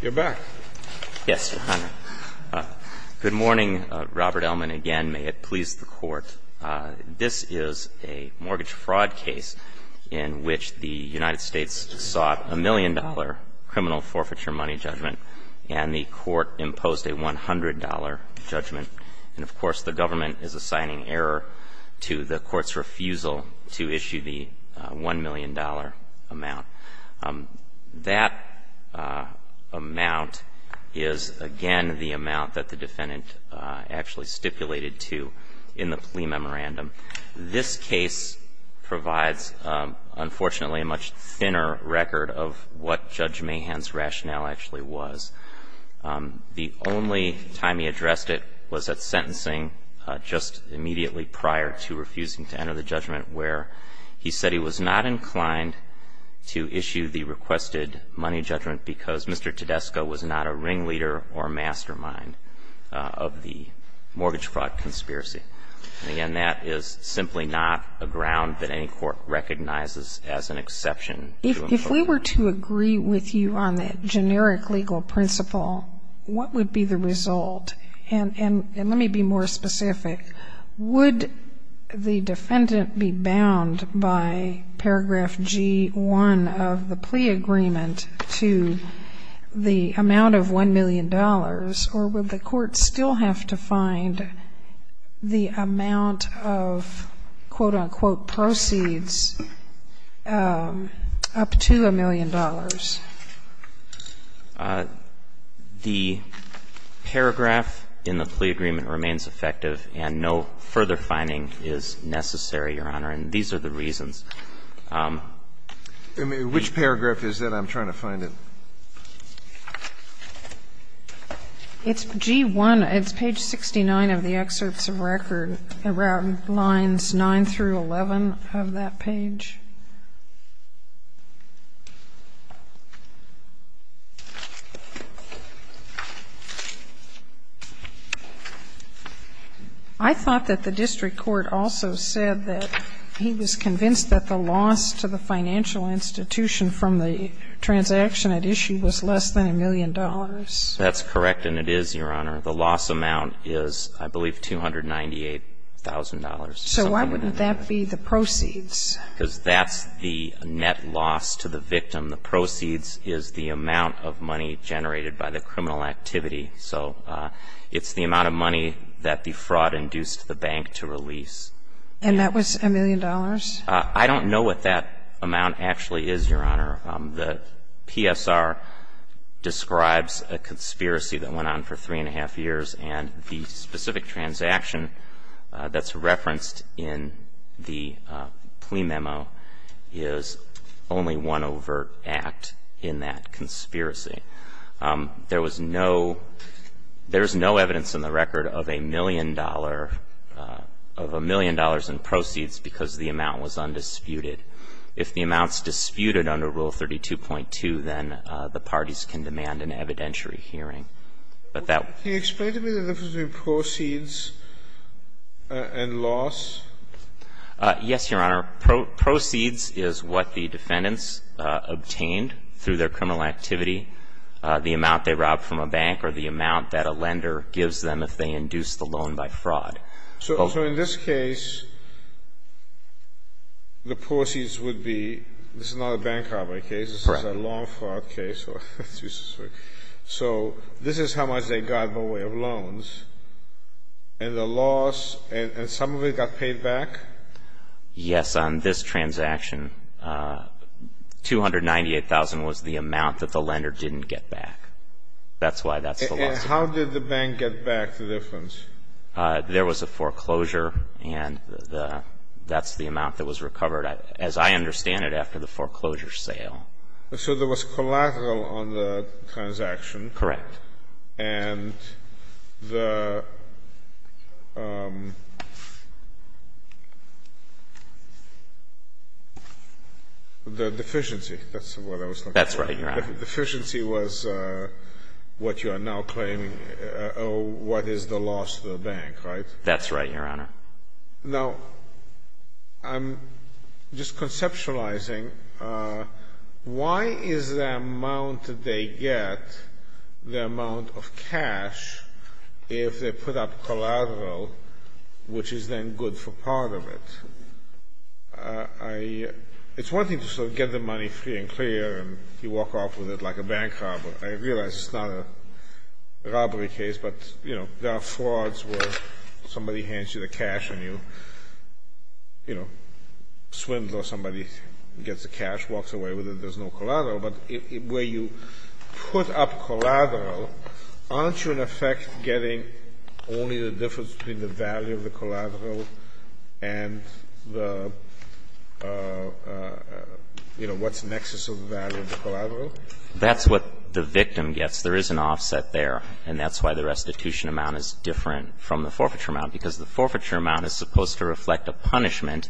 You're back. Yes, Your Honor. Good morning. Robert Ellman again. May it please the Court. This is a mortgage fraud case in which the United States sought a million-dollar criminal forfeiture money judgment, and the Court imposed a $100 judgment. And, of course, the government is assigning error to the Court's refusal to issue the $1 million amount. That amount is, again, the amount that the defendant actually stipulated to in the plea memorandum. This case provides, unfortunately, a much thinner record of what Judge Mahan's rationale actually was. The only time he addressed it was at sentencing just immediately prior to refusing to enter the judgment, where he said he was not inclined to issue the requested money judgment because Mr. Tedesco was not a ringleader or mastermind of the mortgage fraud conspiracy. And, again, that is simply not a ground that any court recognizes as an exception. Sotomayor If we were to agree with you on the generic legal principle, what would be the result? And let me be more specific. Would the defendant be bound by paragraph G1 of the plea agreement to the amount of $1 million, or would the court still have to find the amount of, quote-unquote, proceeds up to $1 million? The paragraph in the plea agreement remains effective, and no further finding is necessary, Your Honor, and these are the reasons. Which paragraph is that? I'm trying to find it. It's G1. It's page 69 of the excerpts of record, around lines 9 through 11 of that page. I thought that the district court also said that he was convinced that the loss to the financial institution from the transaction at issue was less than $1 million. That's correct, and it is, Your Honor. The loss amount is, I believe, $298,000. So why wouldn't that be the proceeds? Because that's the net loss to the victim. The proceeds is the amount of money generated by the criminal activity. So it's the amount of money that the fraud induced the bank to release. And that was $1 million? I don't know what that amount actually is, Your Honor. The PSR describes a conspiracy that went on for three and a half years, and the specific transaction that's referenced in the plea memo is only one overt act in that conspiracy. There was no – there is no evidence in the record of a million dollar – of a million dollars in proceeds because the amount was undisputed. If the amount's disputed under Rule 32.2, then the parties can demand an evidentiary hearing. But that – Can you explain to me the difference between proceeds and loss? Yes, Your Honor. Proceeds is what the defendants obtained through their criminal activity, the amount they robbed from a bank or the amount that a lender gives them if they induce the loan by fraud. So in this case, the proceeds would be – this is not a bank robbery case. This is a loan fraud case. So this is how much they got by way of loans. And the loss – and some of it got paid back? Yes, on this transaction. $298,000 was the amount that the lender didn't get back. That's why that's the loss. And how did the bank get back the difference? There was a foreclosure. And that's the amount that was recovered, as I understand it, after the foreclosure sale. So there was collateral on the transaction. Correct. And the – the deficiency, that's what I was looking for. That's right, Your Honor. The deficiency was what you are now claiming, what is the loss to the bank, right? That's right, Your Honor. Now, I'm just conceptualizing. Why is the amount that they get, the amount of cash, if they put up collateral, which is then good for part of it? I – it's one thing to sort of get the money free and clear and you walk off with it like a bank robber. I realize it's not a robbery case, but, you know, there are frauds where somebody hands you the cash and you, you know, swindle somebody, gets the cash, walks away with it, there's no collateral. And the, you know, what's the nexus of the value of the collateral? That's what the victim gets. There is an offset there, and that's why the restitution amount is different from the forfeiture amount, because the forfeiture amount is supposed to reflect a punishment,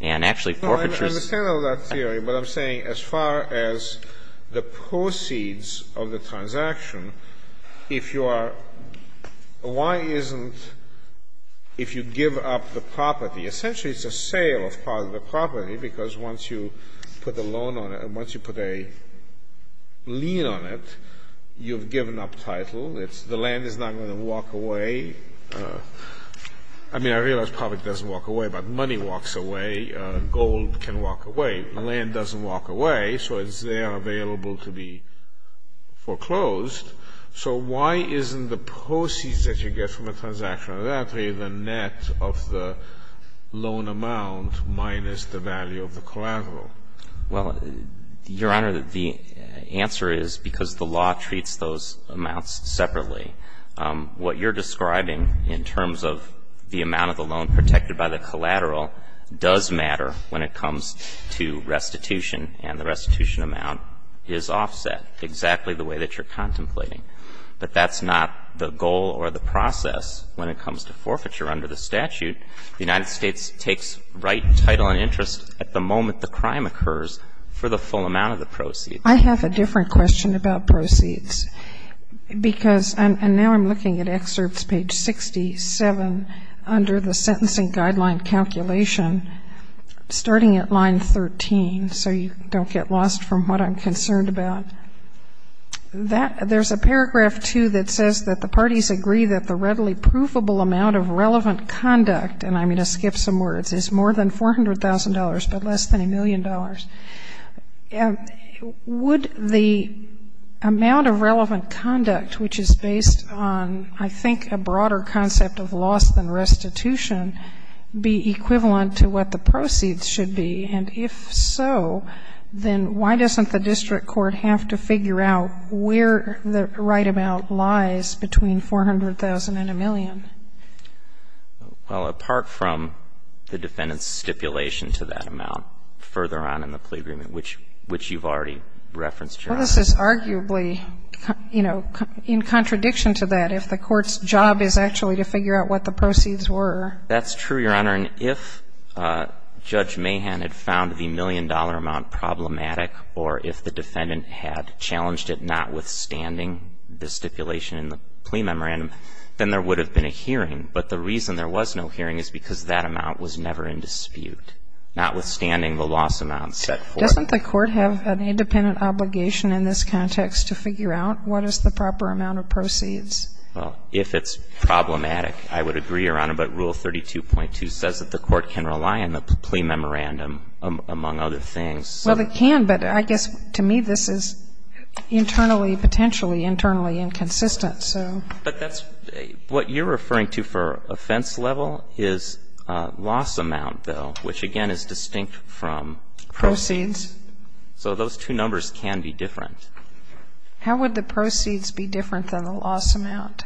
and actually forfeitures I understand all that theory, but I'm saying as far as the proceeds of the transaction, if you are – why isn't – if you give up the property, essentially it's a sale of part of the property, because once you put a loan on it, once you put a lien on it, you've given up title, it's – the land is not going to walk away. I mean, I realize profit doesn't walk away, but money walks away, gold can walk away, land doesn't walk away, so it's there available to be foreclosed. So why isn't the proceeds that you get from a transaction of that, the net of the loan amount minus the value of the collateral? Well, Your Honor, the answer is because the law treats those amounts separately. What you're describing in terms of the amount of the loan protected by the collateral does matter when it comes to restitution, and the restitution amount is offset exactly the way that you're contemplating. But that's not the goal or the process when it comes to forfeiture under the statute. The United States takes right title and interest at the moment the crime occurs for the full amount of the proceeds. I have a different question about proceeds, because – and now I'm looking at Excerpts page 67 under the Sentencing Guideline calculation, starting at line 13, so you don't get lost from what I'm concerned about. There's a paragraph, too, that says that the parties agree that the readily provable amount of relevant conduct – and I'm going to skip some words – is more than $400,000, but less than a million dollars. Would the amount of relevant conduct, which is based on, I think, a broader concept of loss than restitution, be equivalent to what the proceeds should be? And if so, then why doesn't the district court have to figure out where the right amount lies between $400,000 and a million? Well, apart from the defendant's stipulation to that amount further on in the plea agreement, which you've already referenced, Your Honor. Well, this is arguably, you know, in contradiction to that, if the court's job is actually to figure out what the proceeds were. That's true, Your Honor. And if Judge Mahan had found the million-dollar amount problematic, or if the defendant had challenged it notwithstanding the stipulation in the plea memorandum, then there would have been a hearing. But the reason there was no hearing is because that amount was never in dispute, notwithstanding the loss amount set forth. Doesn't the court have an independent obligation in this context to figure out what is the proper amount of proceeds? Well, if it's problematic, I would agree, Your Honor, but Rule 32.2 says that the court can rely on the plea memorandum, among other things. Well, it can, but I guess to me this is internally, potentially internally inconsistent. But that's what you're referring to for offense level is loss amount, though, which, again, is distinct from proceeds. Proceeds. So those two numbers can be different. How would the proceeds be different than the loss amount?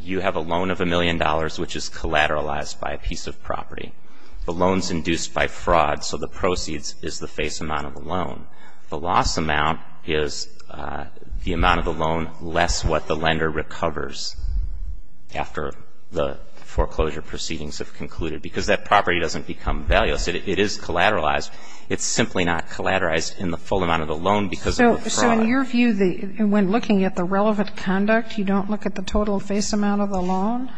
You have a loan of a million dollars, which is collateralized by a piece of property. The loan's induced by fraud, so the proceeds is the face amount of the loan. The loss amount is the amount of the loan less what the lender recovers after the foreclosure proceedings have concluded, because that property doesn't become valueless. It is collateralized. It's simply not collateralized in the full amount of the loan because of the fraud. So in your view, when looking at the relevant conduct, you don't look at the total face amount of the loan?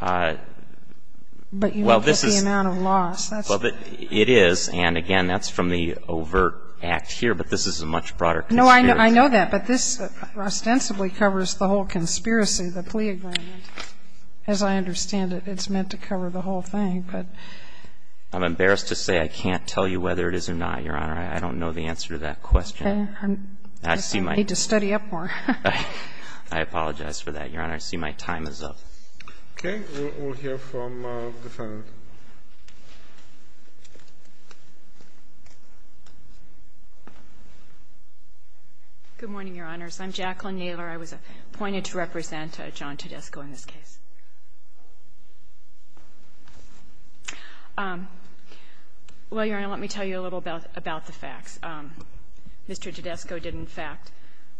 But you look at the amount of loss. Well, it is. And, again, that's from the overt act here, but this is a much broader conspiracy. No, I know that. But this ostensibly covers the whole conspiracy, the plea agreement. As I understand it, it's meant to cover the whole thing, but. I'm embarrassed to say I can't tell you whether it is or not, Your Honor. I don't know the answer to that question. I need to study up more. I apologize for that, Your Honor. I see my time is up. Okay. We'll hear from the defendant. Good morning, Your Honors. I'm Jacqueline Naylor. I was appointed to represent John Tedesco in this case. Well, Your Honor, let me tell you a little about the facts. Mr. Tedesco did, in fact,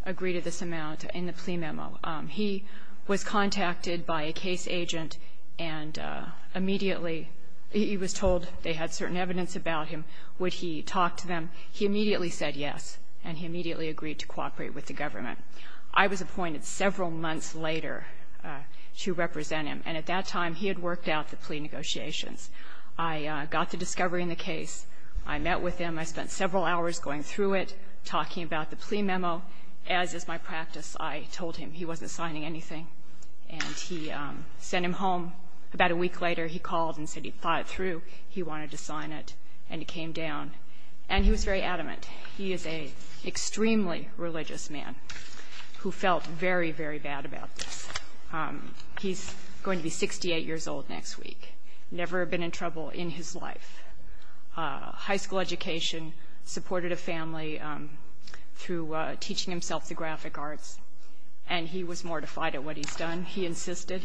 agree to this amount in the plea memo. He was contacted by a case agent and immediately he was told they had certain evidence about him. Would he talk to them? He immediately said yes, and he immediately agreed to cooperate with the government. I was appointed several months later to represent him, and at that time he had worked out the plea negotiations. I got the discovery in the case. I met with him. I spent several hours going through it, talking about the plea memo. As is my practice, I told him he wasn't signing anything, and he sent him home. About a week later, he called and said he'd thought it through. He wanted to sign it, and it came down, and he was very adamant. He is an extremely religious man who felt very, very bad about this. He's going to be 68 years old next week, never been in trouble in his life. High school education, supported a family through teaching himself the graphic arts, and he was mortified at what he's done. He insisted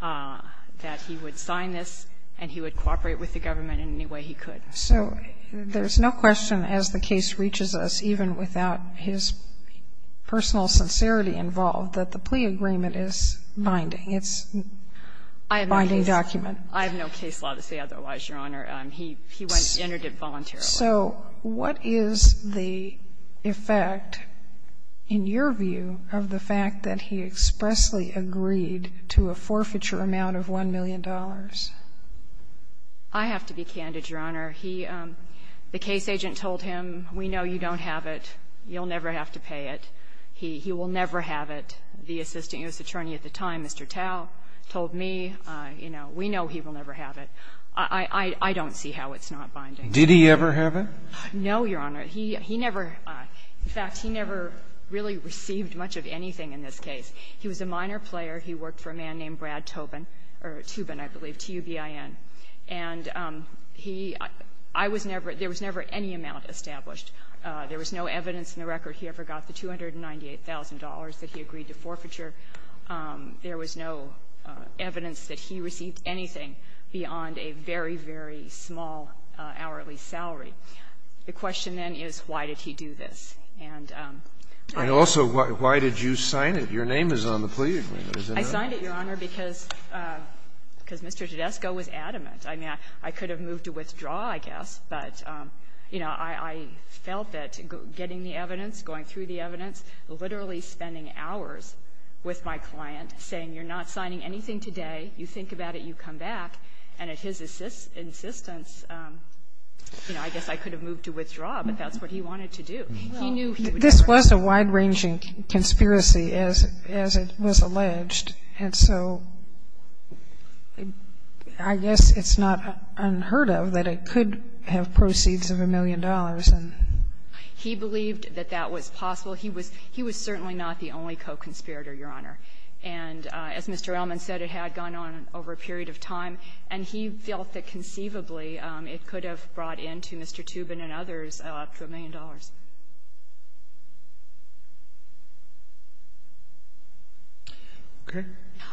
that he would sign this and he would cooperate with the government in any way he could. So there's no question as the case reaches us, even without his personal sincerity involved, that the plea agreement is binding. It's a binding document. I have no case law to say otherwise, Your Honor. He went in and did it voluntarily. So what is the effect, in your view, of the fact that he expressly agreed to a forfeiture amount of $1 million? I have to be candid, Your Honor. He – the case agent told him, we know you don't have it. You'll never have to pay it. He will never have it. The assistant U.S. attorney at the time, Mr. Tao, told me, you know, we know he will never have it. I don't see how it's not binding. Did he ever have it? No, Your Honor. He never – in fact, he never really received much of anything in this case. He was a minor player. He worked for a man named Brad Tobin, or Toobin, I believe, T-u-b-i-n. And he – I was never – there was never any amount established. There was no evidence in the record he ever got the $298,000 that he agreed to forfeiture. There was no evidence that he received anything beyond a very, very small hourly salary. The question, then, is why did he do this? And I don't know. And also, why did you sign it? Your name is on the plea agreement, isn't it? I signed it, Your Honor, because Mr. Tedesco was adamant. I mean, I could have moved to withdraw, I guess, but, you know, I felt that getting the evidence, going through the evidence, literally spending hours with my client, saying, you're not signing anything today, you think about it, you come back. And at his insistence, you know, I guess I could have moved to withdraw, but that's what he wanted to do. He knew he would – This was a wide-ranging conspiracy, as it was alleged. And so I guess it's not unheard of that it could have proceeds of a million dollars. He believed that that was possible. He was certainly not the only co-conspirator, Your Honor. And as Mr. Ellman said, it had gone on over a period of time. And he felt that conceivably it could have brought in to Mr. Toobin and others up to a million dollars.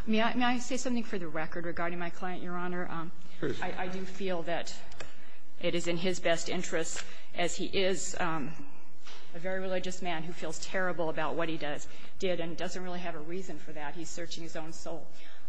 May I say something for the record regarding my client, Your Honor? Sure. I do feel that it is in his best interest, as he is a very religious man who feels terrible about what he did and doesn't really have a reason for that. He's searching his own soul.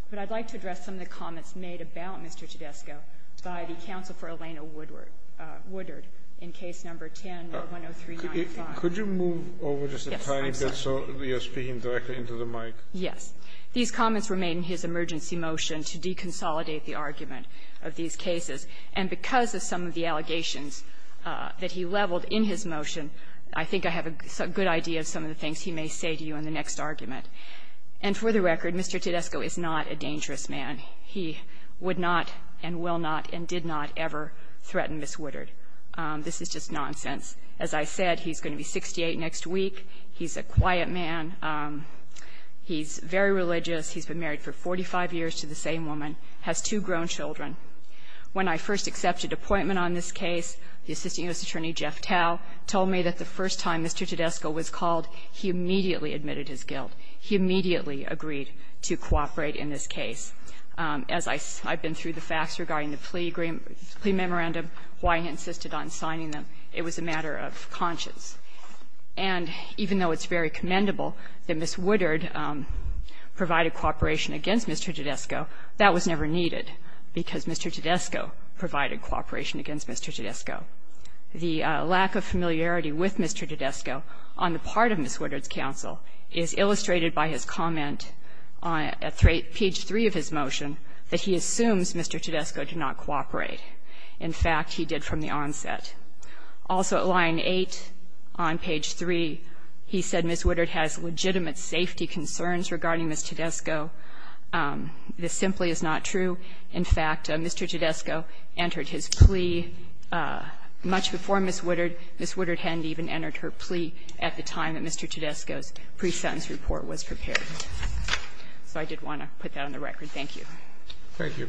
But I'd like to address some of the comments made about Mr. Tedesco by the counsel for Elena Woodard in Case No. 10-10395. Could you move over just a tiny bit so you're speaking directly into the mic? Yes. These comments were made in his emergency motion to deconsolidate the argument of these cases. And because of some of the allegations that he leveled in his motion, I think I have a good idea of some of the things he may say to you in the next argument. And for the record, Mr. Tedesco is not a dangerous man. He would not and will not and did not ever threaten Ms. Woodard. This is just nonsense. As I said, he's going to be 68 next week. He's a quiet man. He's very religious. He's been married for 45 years to the same woman, has two grown children. When I first accepted appointment on this case, the assistant U.S. attorney, Jeff Tao, told me that the first time Mr. Tedesco was called, he immediately admitted his guilt. He immediately agreed to cooperate in this case. As I've been through the facts regarding the plea memorandum, why he insisted on signing them, it was a matter of conscience. And even though it's very commendable that Ms. Woodard provided cooperation against Mr. Tedesco, that was never needed because Mr. Tedesco provided cooperation against Mr. Tedesco. The lack of familiarity with Mr. Tedesco on the part of Ms. Woodard's counsel is illustrated by his comment on page 3 of his motion that he assumes Mr. Tedesco did not cooperate. In fact, he did from the onset. Also at line 8 on page 3, he said Ms. Woodard has legitimate safety concerns regarding Ms. Tedesco. This simply is not true. In fact, Mr. Tedesco entered his plea much before Ms. Woodard. Ms. Woodard hadn't even entered her plea at the time that Mr. Tedesco's pre-sentence report was prepared. So I did want to put that on the record. Thank you. Thank you.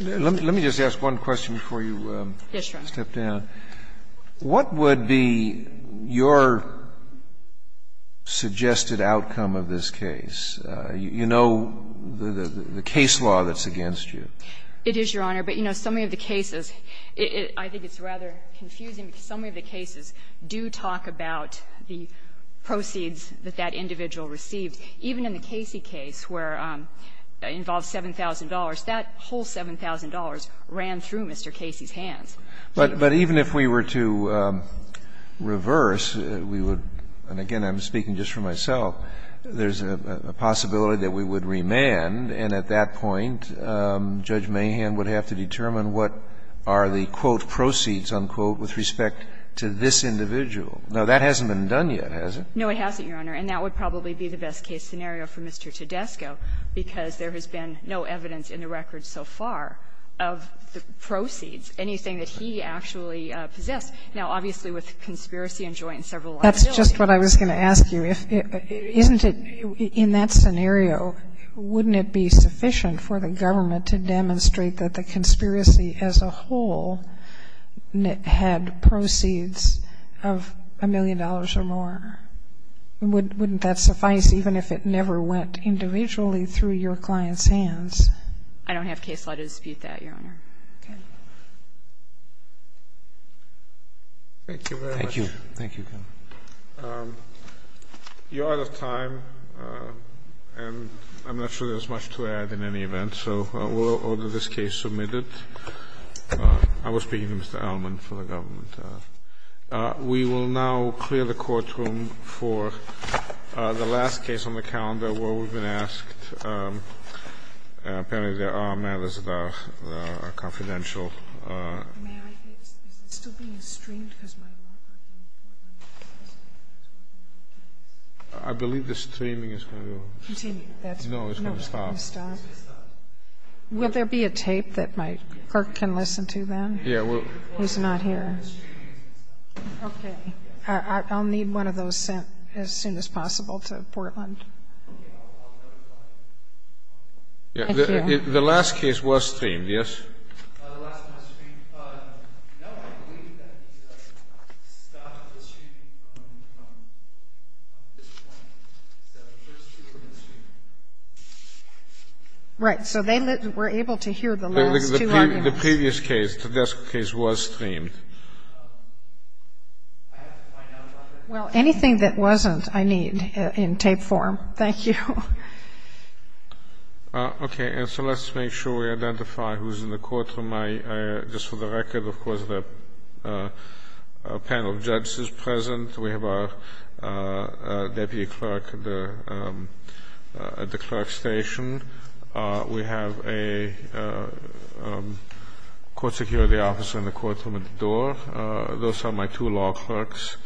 Let me just ask one question before you step down. Yes, Your Honor. What would be your suggested outcome of this case? You know the case law that's against you. It is, Your Honor. But, you know, some of the cases, I think it's rather confusing, but some of the cases do talk about the proceeds that that individual received, even in the Casey case where it involved $7,000. That whole $7,000 ran through Mr. Casey's hands. But even if we were to reverse, we would, and again I'm speaking just for myself, there's a possibility that we would remand, and at that point Judge Mahan would have to determine what are the, quote, "'proceeds'," unquote, with respect to this individual. Now, that hasn't been done yet, has it? No, it hasn't, Your Honor. And that would probably be the best case scenario for Mr. Tedesco, because there has been no evidence in the record so far of the proceeds, anything that he actually possessed. Now, obviously, with conspiracy and joint and several liabilities. That's just what I was going to ask you. Isn't it, in that scenario, wouldn't it be sufficient for the government to demonstrate that the conspiracy as a whole had proceeds of a million dollars or more? Wouldn't that suffice even if it never went individually through your client's hands? I don't have case law to dispute that, Your Honor. Okay. Thank you very much. Thank you. Thank you. You're out of time, and I'm not sure there's much to add in any event, so we'll order this case submitted. I was speaking to Mr. Allman for the government. We will now clear the courtroom for the last case on the calendar where we've been asked. Apparently, there are matters that are confidential. May I ask, is it still being streamed? Because my law clerk can't hear me. I believe the streaming is going to go. Continue. No, it's going to stop. It's going to stop. Will there be a tape that my clerk can listen to, then? He's not here. Okay. I'll need one of those sent as soon as possible to Portland. The last case was streamed, yes? Right, so they were able to hear the last two arguments. The previous case, the desk case, was streamed. Well, anything that wasn't, I need in tape form. Thank you. Okay, and so let's make sure we identify who's in the courtroom. Just for the record, of course, the panel of judges is present. We have our deputy clerk at the clerk's station. We have a court security officer in the courtroom at the door. Those are my two law clerks.